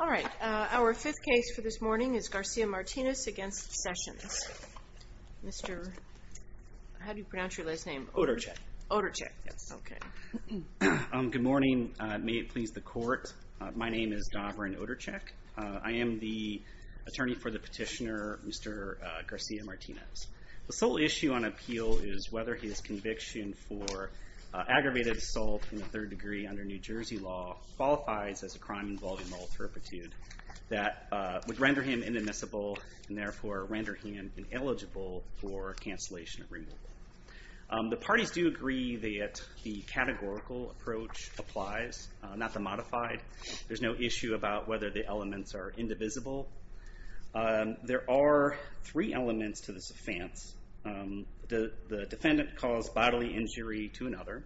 All right, our fifth case for this morning is Garcia-Martinez v. Sessions. How do you pronounce your last name? Oderchek. Oderchek. Okay. Good morning. May it please the Court. My name is Dovrin Oderchek. I am the attorney for the petitioner, Mr. Garcia-Martinez. The sole issue on appeal is whether his conviction for aggravated assault in the third degree under New Jersey law qualifies as a crime involving moral turpitude that would render him inadmissible and therefore render him ineligible for cancellation of removal. The parties do agree that the categorical approach applies, not the modified. There's no issue about whether the elements are indivisible. There are three elements to this offense. The defendant caused bodily injury to another.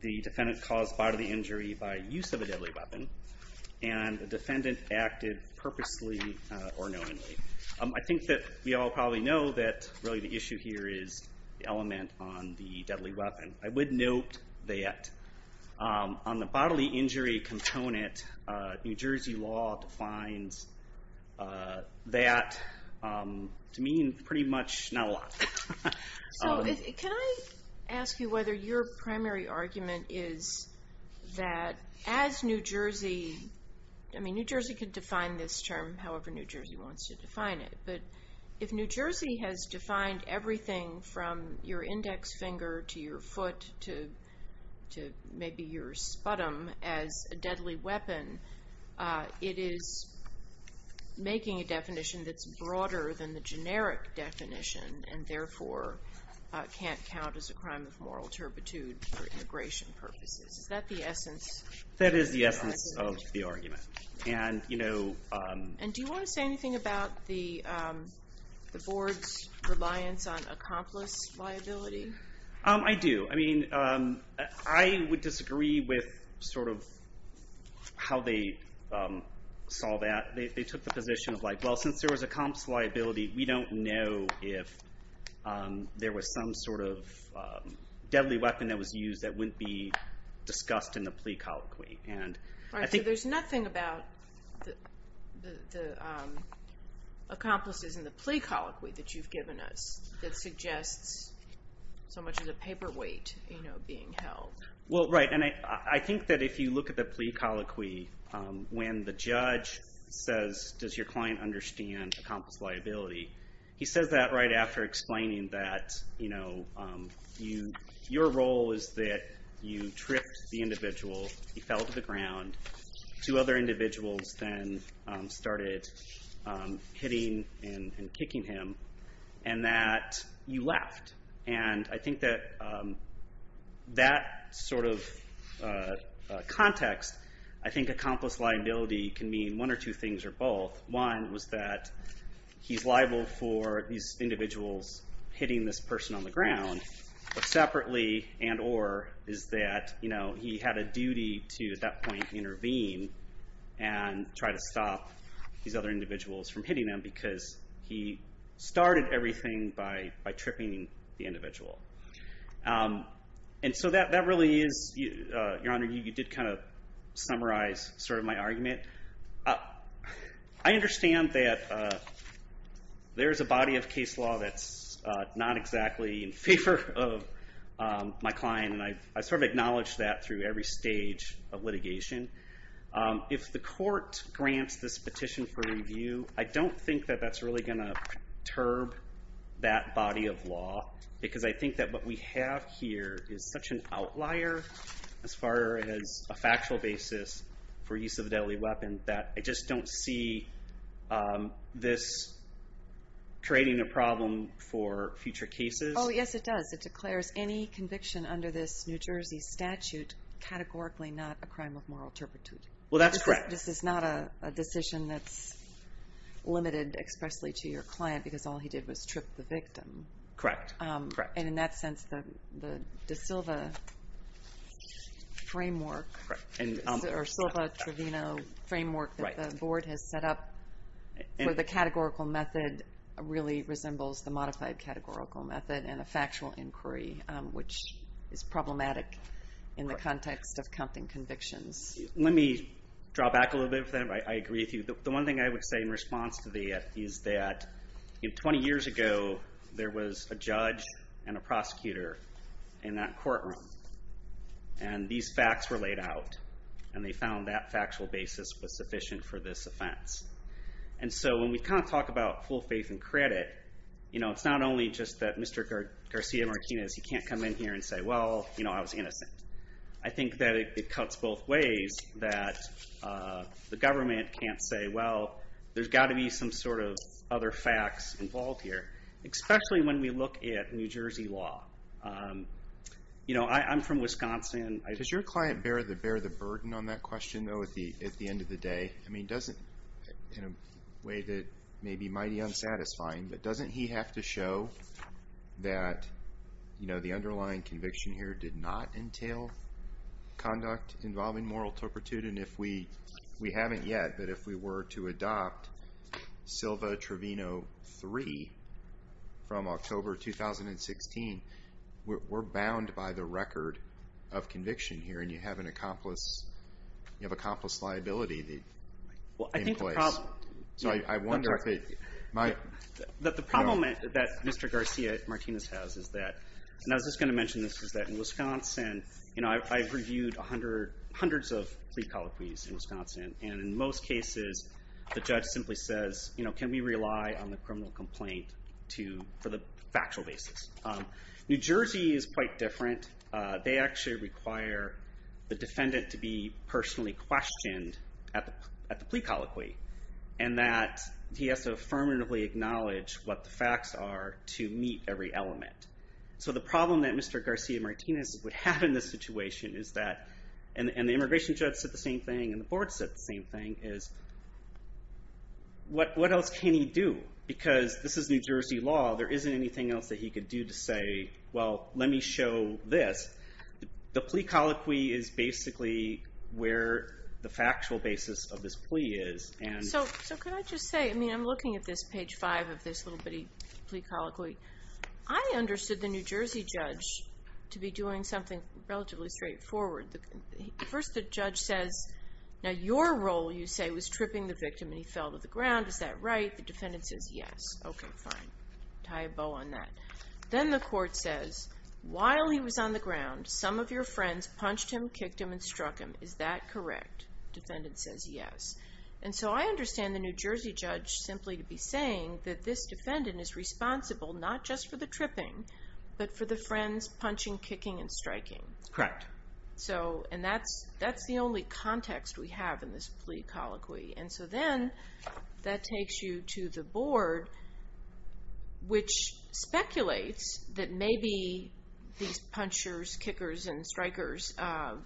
The defendant caused bodily injury by use of a deadly weapon. And the defendant acted purposely or knowingly. I think that we all probably know that really the issue here is the element on the deadly weapon. I would note that on the bodily injury component, New Jersey law defines that to mean pretty much not a lot. So can I ask you whether your primary argument is that as New Jersey, I mean New Jersey could define this term however New Jersey wants to define it, but if New Jersey has defined everything from your index finger to your foot to maybe your sputum as a deadly weapon, it is making a definition that's broader than the generic definition and therefore can't count as a crime of moral turpitude for immigration purposes. Is that the essence? That is the essence of the argument. And do you want to say anything about the board's reliance on accomplice liability? I do. I mean, I would disagree with sort of how they saw that. They took the position of like, well, since there was accomplice liability, we don't know if there was some sort of deadly weapon that was used that wouldn't be discussed in the plea colloquy. All right, so there's nothing about the accomplices in the plea colloquy that you've given us that suggests so much of the paperweight, you know, being held. Well, right, and I think that if you look at the plea colloquy, when the judge says, does your client understand accomplice liability, he says that right after explaining that, you know, your role is that you tricked the individual. He fell to the ground. Two other individuals then started hitting and kicking him, and that you left. And I think that that sort of context, I think accomplice liability can mean one or two things or both. One was that he's liable for these individuals hitting this person on the ground, but separately and or is that, you know, he had a duty to, at that point, intervene and try to stop these other individuals from hitting him because he started everything by tripping the individual. And so that really is, Your Honor, you did kind of summarize sort of my argument. I understand that there is a body of case law that's not exactly in favor of my client, and I sort of acknowledge that through every stage of litigation. If the court grants this petition for review, I don't think that that's really going to perturb that body of law because I think that what we have here is such an outlier as far as a factual basis for use of a deadly weapon that I just don't see this creating a problem for future cases. Oh, yes, it does. It declares any conviction under this New Jersey statute categorically not a crime of moral turpitude. Well, that's correct. This is not a decision that's limited expressly to your client because all he did was trip the victim. Correct, correct. And in that sense, the De Silva framework or Silva-Trevino framework that the board has set up for the categorical method really resembles the modified categorical method and a factual inquiry, which is problematic in the context of counting convictions. Let me draw back a little bit for that. I agree with you. The one thing I would say in response to that is that 20 years ago there was a judge and a prosecutor in that courtroom, and these facts were laid out, and they found that factual basis was sufficient for this offense. And so when we talk about full faith and credit, it's not only just that Mr. Garcia-Martinez, he can't come in here and say, well, I was innocent. I think that it cuts both ways that the government can't say, well, there's got to be some sort of other facts involved here, especially when we look at New Jersey law. You know, I'm from Wisconsin. Does your client bear the burden on that question, though, at the end of the day? I mean, in a way that may be mighty unsatisfying, but doesn't he have to show that, you know, the underlying conviction here did not entail conduct involving moral turpitude? And we haven't yet, but if we were to adopt Silva-Trevino III from October 2016, we're bound by the record of conviction here, and you have an accomplice liability in place. The problem that Mr. Garcia-Martinez has is that, and I was just going to mention this, is that in Wisconsin, you know, I've reviewed hundreds of plea colloquies in Wisconsin, and in most cases the judge simply says, you know, can we rely on the criminal complaint for the factual basis? New Jersey is quite different. They actually require the defendant to be personally questioned at the plea colloquy. And that he has to affirmatively acknowledge what the facts are to meet every element. So the problem that Mr. Garcia-Martinez would have in this situation is that, and the immigration judge said the same thing, and the board said the same thing, is what else can he do? Because this is New Jersey law. There isn't anything else that he could do to say, well, let me show this. The plea colloquy is basically where the factual basis of this plea is, and so could I just say, I mean, I'm looking at this page five of this little plea colloquy. I understood the New Jersey judge to be doing something relatively straightforward. First the judge says, now your role, you say, was tripping the victim, and he fell to the ground. Is that right? The defendant says yes. Okay, fine. Tie a bow on that. Then the court says, while he was on the ground, some of your friends punched him, kicked him, and struck him. Is that correct? Defendant says yes. And so I understand the New Jersey judge simply to be saying that this defendant is responsible, not just for the tripping, but for the friends punching, kicking, and striking. Correct. And that's the only context we have in this plea colloquy. And so then that takes you to the board, which speculates that maybe these punchers, kickers, and strikers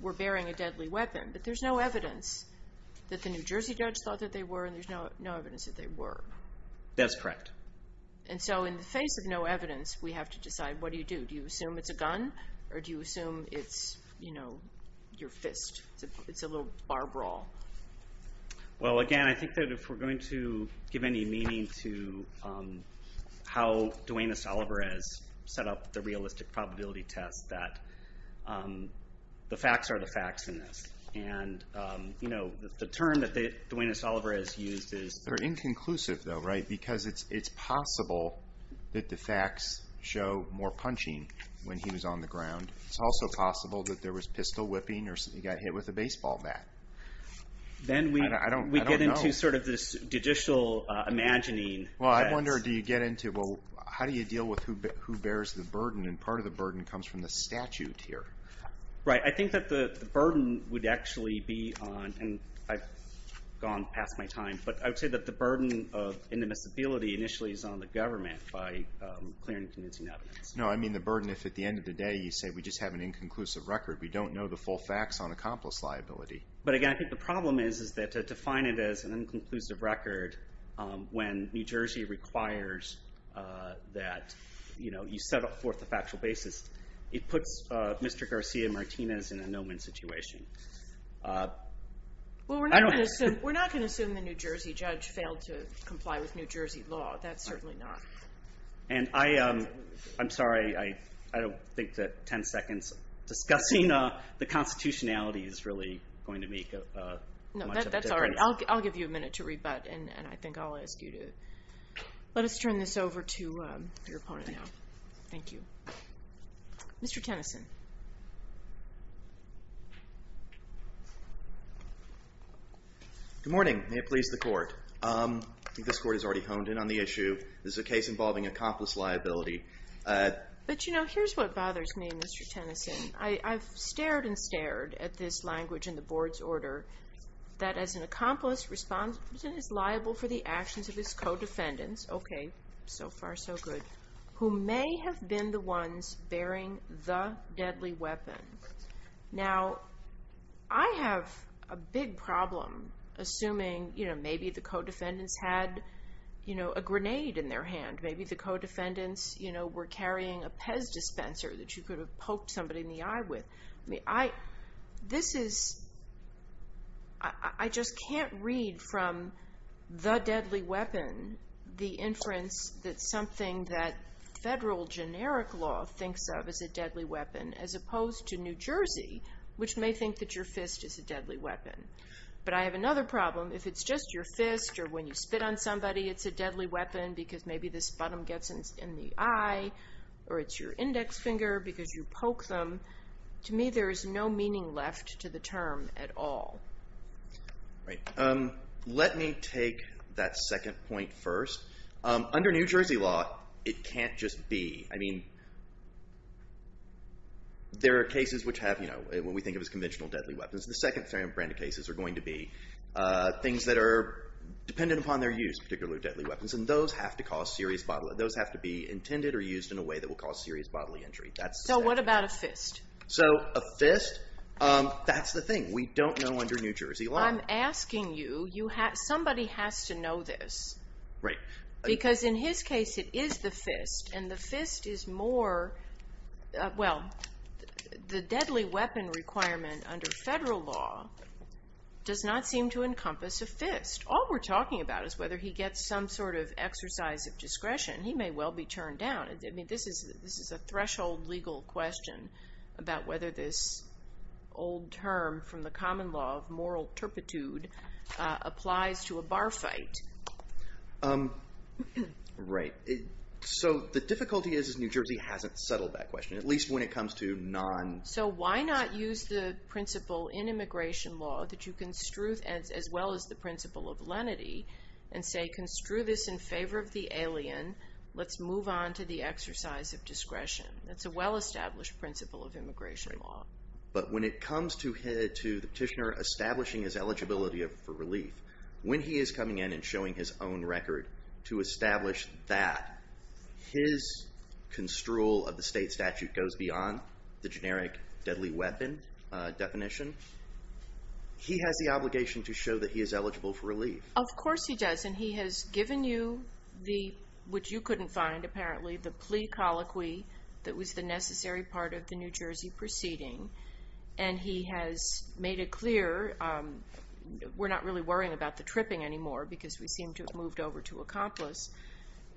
were bearing a deadly weapon, but there's no evidence that the New Jersey judge thought that they were, and there's no evidence that they were. That's correct. And so in the face of no evidence, we have to decide, what do you do? Do you assume it's a gun, or do you assume it's your fist? It's a little bar brawl. Well, again, I think that if we're going to give any meaning to how Duane S. Oliver has set up the realistic probability test, that the facts are the facts in this. And, you know, the term that Duane S. Oliver has used is They're inconclusive, though, right? Because it's possible that the facts show more punching when he was on the ground. It's also possible that there was pistol whipping or he got hit with a baseball bat. Then we get into sort of this judicial imagining. Well, I wonder, do you get into, well, how do you deal with who bears the burden? And part of the burden comes from the statute here. Right. I think that the burden would actually be on, and I've gone past my time, but I would say that the burden of indemnizability initially is on the government by clearing and convincing evidence. No, I mean the burden if at the end of the day you say we just have an inconclusive record. We don't know the full facts on accomplice liability. But, again, I think the problem is that to define it as an inconclusive record when New Jersey requires that you set forth a factual basis, it puts Mr. Garcia-Martinez in a no-win situation. Well, we're not going to assume the New Jersey judge failed to comply with New Jersey law. That's certainly not. And I'm sorry, I don't think that 10 seconds discussing the constitutionality is really going to make much of a difference. That's all right. I'll give you a minute to rebut, and I think I'll ask you to let us turn this over to your opponent now. Thank you. Mr. Tennyson. Good morning. May it please the Court. I think this Court has already honed in on the issue. This is a case involving accomplice liability. But, you know, here's what bothers me, Mr. Tennyson. I've stared and stared at this language in the Board's order that as an accomplice, responsibility is liable for the actions of his co-defendants. Okay, so far so good. Who may have been the ones bearing the deadly weapon. Now, I have a big problem assuming, you know, maybe the co-defendants had, you know, a grenade in their hand. Maybe the co-defendants, you know, were carrying a PEZ dispenser that you could have poked somebody in the eye with. I mean, this is, I just can't read from the deadly weapon the inference that something that federal generic law thinks of as a deadly weapon as opposed to New Jersey, which may think that your fist is a deadly weapon. But I have another problem. If it's just your fist or when you spit on somebody, it's a deadly weapon because maybe the sputum gets in the eye or it's your index finger because you poke them. To me, there is no meaning left to the term at all. Right. Let me take that second point first. Under New Jersey law, it can't just be. I mean, there are cases which have, you know, what we think of as conventional deadly weapons. The second brand of cases are going to be things that are dependent upon their use, particularly deadly weapons. And those have to cause serious bodily, those have to be intended or used in a way that will cause serious bodily injury. So what about a fist? So a fist, that's the thing. We don't know under New Jersey law. I'm asking you, somebody has to know this. Right. Because in his case, it is the fist. And the fist is more, well, the deadly weapon requirement under federal law does not seem to encompass a fist. All we're talking about is whether he gets some sort of exercise of discretion. He may well be turned down. I mean, this is a threshold legal question about whether this old term from the common law of moral turpitude applies to a bar fight. Right. So the difficulty is New Jersey hasn't settled that question, at least when it comes to non- So why not use the principle in immigration law that you construe, as well as the principle of lenity, and say, construe this in favor of the alien. Let's move on to the exercise of discretion. That's a well-established principle of immigration law. But when it comes to the petitioner establishing his eligibility for relief, when he is coming in and showing his own record to establish that his construal of the state statute goes beyond the generic deadly weapon definition, he has the obligation to show that he is eligible for relief. Of course he does, and he has given you the, which you couldn't find, apparently, the plea colloquy that was the necessary part of the New Jersey proceeding. And he has made it clear, we're not really worrying about the tripping anymore because we seem to have moved over to accomplice,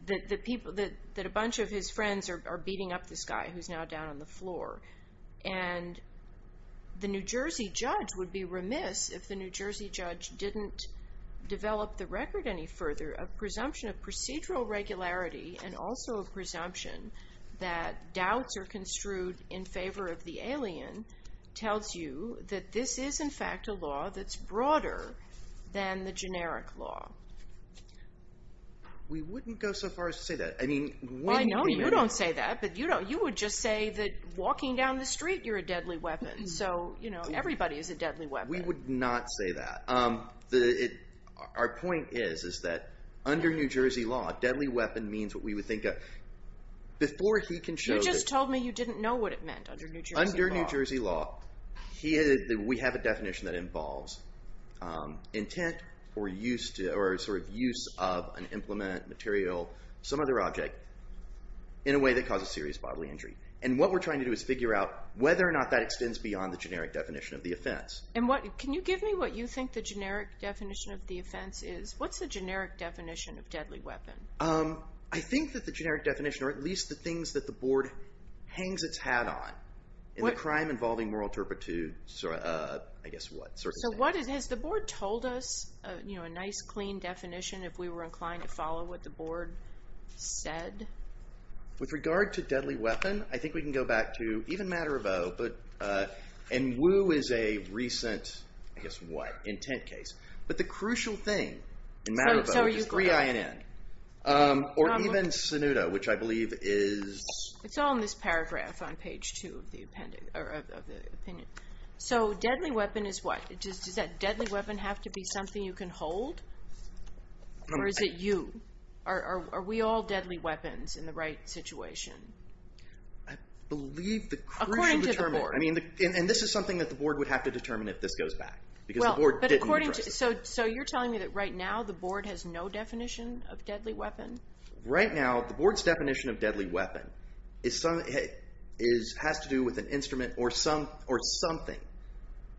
that a bunch of his friends are beating up this guy who's now down on the floor. And the New Jersey judge would be remiss if the New Jersey judge didn't develop the record any further, a presumption of procedural regularity, and also a presumption that doubts are construed in favor of the alien, tells you that this is, in fact, a law that's broader than the generic law. We wouldn't go so far as to say that. I know you don't say that, but you would just say that walking down the street you're a deadly weapon. So, you know, everybody is a deadly weapon. We would not say that. Our point is, is that under New Jersey law, deadly weapon means what we would think of before he can show that. You just told me you didn't know what it meant under New Jersey law. Under New Jersey law, we have a definition that involves intent or sort of use of an implement, material, some other object in a way that causes serious bodily injury. And what we're trying to do is figure out whether or not that extends beyond the generic definition of the offense. And can you give me what you think the generic definition of the offense is? What's the generic definition of deadly weapon? I think that the generic definition, or at least the things that the Board hangs its hat on, in the crime involving moral turpitude, I guess what, circumstances. So has the Board told us a nice, clean definition if we were inclined to follow what the Board said? With regard to deadly weapon, I think we can go back to even matter of oath, and Wu is a recent, I guess what, intent case. But the crucial thing in matter of oath is 3INN. Or even Sunuda, which I believe is... It's all in this paragraph on page 2 of the opinion. So deadly weapon is what? Does that deadly weapon have to be something you can hold? Or is it you? Are we all deadly weapons in the right situation? I believe the crucial... According to the Board. And this is something that the Board would have to determine if this goes back. Because the Board didn't address this. So you're telling me that right now the Board has no definition of deadly weapon? Right now, the Board's definition of deadly weapon has to do with an instrument or something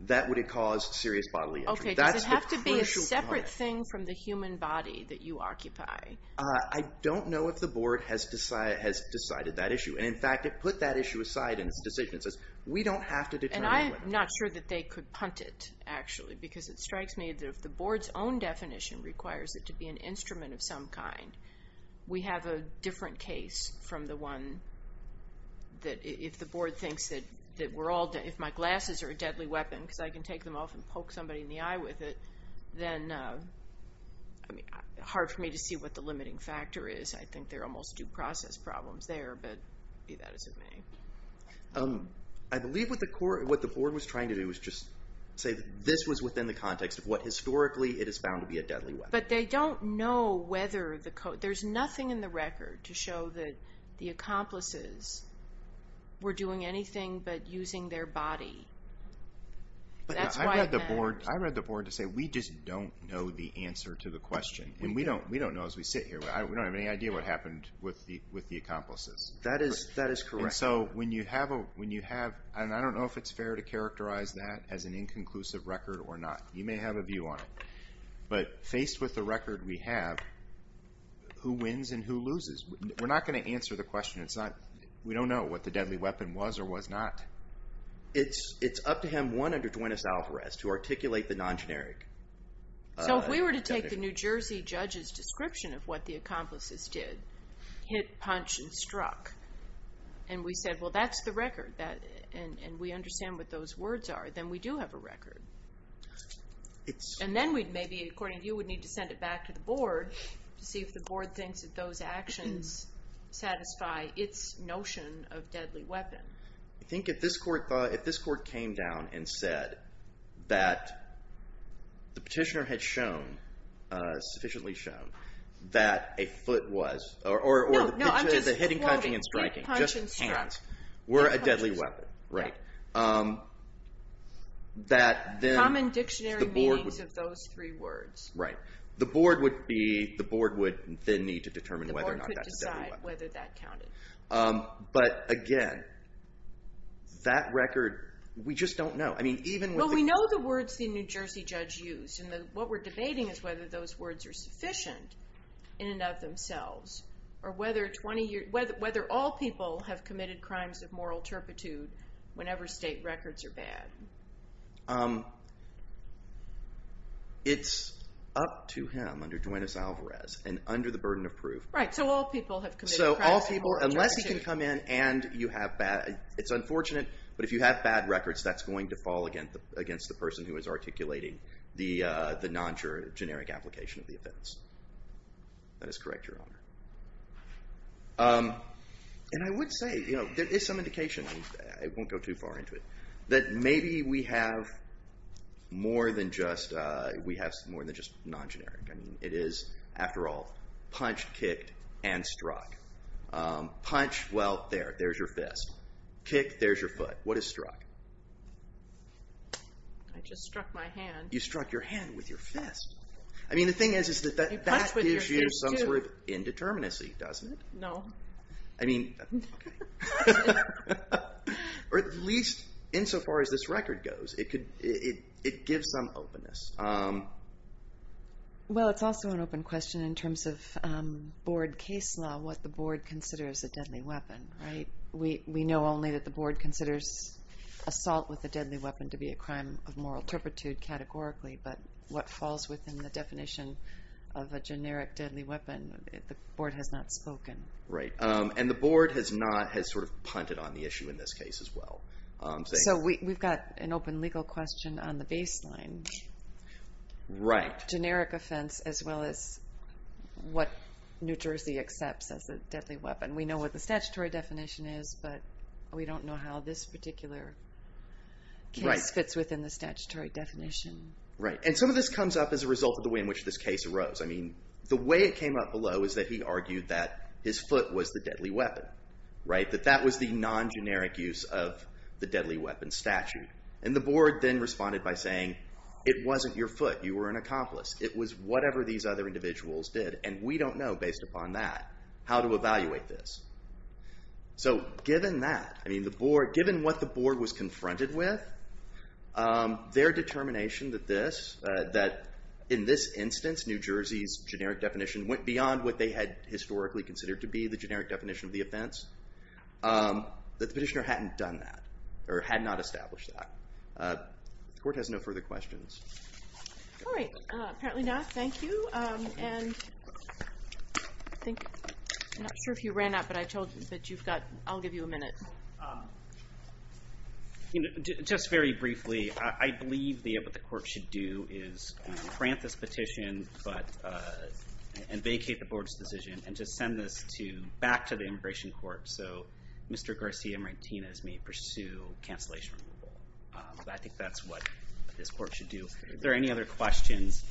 that would cause serious bodily injury. Does it have to be a separate thing from the human body that you occupy? I don't know if the Board has decided that issue. And, in fact, it put that issue aside in its decision. It says, we don't have to determine whether. And I'm not sure that they could punt it, actually. Because it strikes me that if the Board's own definition requires it to be an instrument of some kind, we have a different case from the one that if the Board thinks that we're all... If my glasses are a deadly weapon because I can take them off and poke somebody in the eye with it, then it's hard for me to see what the limiting factor is. I think there are almost due process problems there, but be that as it may. I believe what the Board was trying to do was just say that this was within the context of what historically it is found to be a deadly weapon. But they don't know whether the code... There's nothing in the record to show that the accomplices were doing anything but using their body. I read the Board to say we just don't know the answer to the question. And we don't know as we sit here. We don't have any idea what happened with the accomplices. That is correct. And so when you have... And I don't know if it's fair to characterize that as an inconclusive record or not. You may have a view on it. But faced with the record we have, who wins and who loses? We're not going to answer the question. We don't know what the deadly weapon was or was not. It's up to him, one, under joint assault arrest to articulate the non-generic definition. So if we were to take the New Jersey judge's description of what the accomplices did, hit, punch, and struck, and we said, well, that's the record, and we understand what those words are, then we do have a record. And then we'd maybe, according to you, would need to send it back to the Board to see if the Board thinks that those actions satisfy its notion of deadly weapon. I think if this Court came down and said that the petitioner had shown, sufficiently shown, that a foot was, or the hitting, punching, and striking, just hands, were a deadly weapon. Common dictionary meanings of those three words. Right. The Board would then need to determine whether or not that's a deadly weapon. The Board could decide whether that counted. But again, that record, we just don't know. Well, we know the words the New Jersey judge used, and what we're debating is whether those words are sufficient in and of themselves, or whether all people have committed crimes of moral turpitude whenever state records are bad. It's up to him, under joint assault arrest, and under the burden of proof. So all people, unless he can come in and you have bad, it's unfortunate, but if you have bad records, that's going to fall against the person who is articulating the non-generic application of the offense. That is correct, Your Honor. And I would say, there is some indication, I won't go too far into it, that maybe we have more than just non-generic. I mean, it is, after all, punched, kicked, and struck. Punch, well, there, there's your fist. Kick, there's your foot. What is struck? I just struck my hand. You struck your hand with your fist. I mean, the thing is that that gives you some sort of indeterminacy, doesn't it? No. I mean, okay. Or at least, insofar as this record goes, it gives some openness. Well, it's also an open question in terms of board case law, what the board considers a deadly weapon, right? We know only that the board considers assault with a deadly weapon to be a crime of moral turpitude categorically, but what falls within the definition of a generic deadly weapon, the board has not spoken. Right. And the board has not, has sort of punted on the issue in this case as well. So we've got an open legal question on the baseline. Right. Generic offense as well as what New Jersey accepts as a deadly weapon. We know what the statutory definition is, but we don't know how this particular case fits within the statutory definition. Right. And some of this comes up as a result of the way in which this case arose. I mean, the way it came up below is that he argued that his foot was the deadly weapon, right? That that was the non-generic use of the deadly weapon statute. And the board then responded by saying, it wasn't your foot. You were an accomplice. It was whatever these other individuals did, and we don't know based upon that how to evaluate this. So given that, I mean, the board, given what the board was confronted with, their determination that this, that in this instance, New Jersey's generic definition went beyond what they had historically considered to be the generic definition of the offense, that the petitioner hadn't done that or had not established that. The court has no further questions. All right. Apparently not. Thank you. And I think, I'm not sure if you ran out, but I told you that you've got, I'll give you a minute. Just very briefly, I believe what the court should do is grant this petition and vacate the board's decision and just send this back to the immigration court so Mr. Garcia Martinez may pursue cancellation. I think that's what this court should do. Are there any other questions?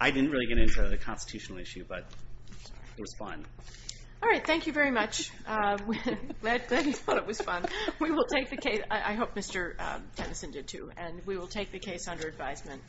I didn't really get into the constitutional issue, but it was fun. All right. Thank you very much. Glad you thought it was fun. We will take the case, I hope Mr. Tennyson did too, and we will take the case under advisement.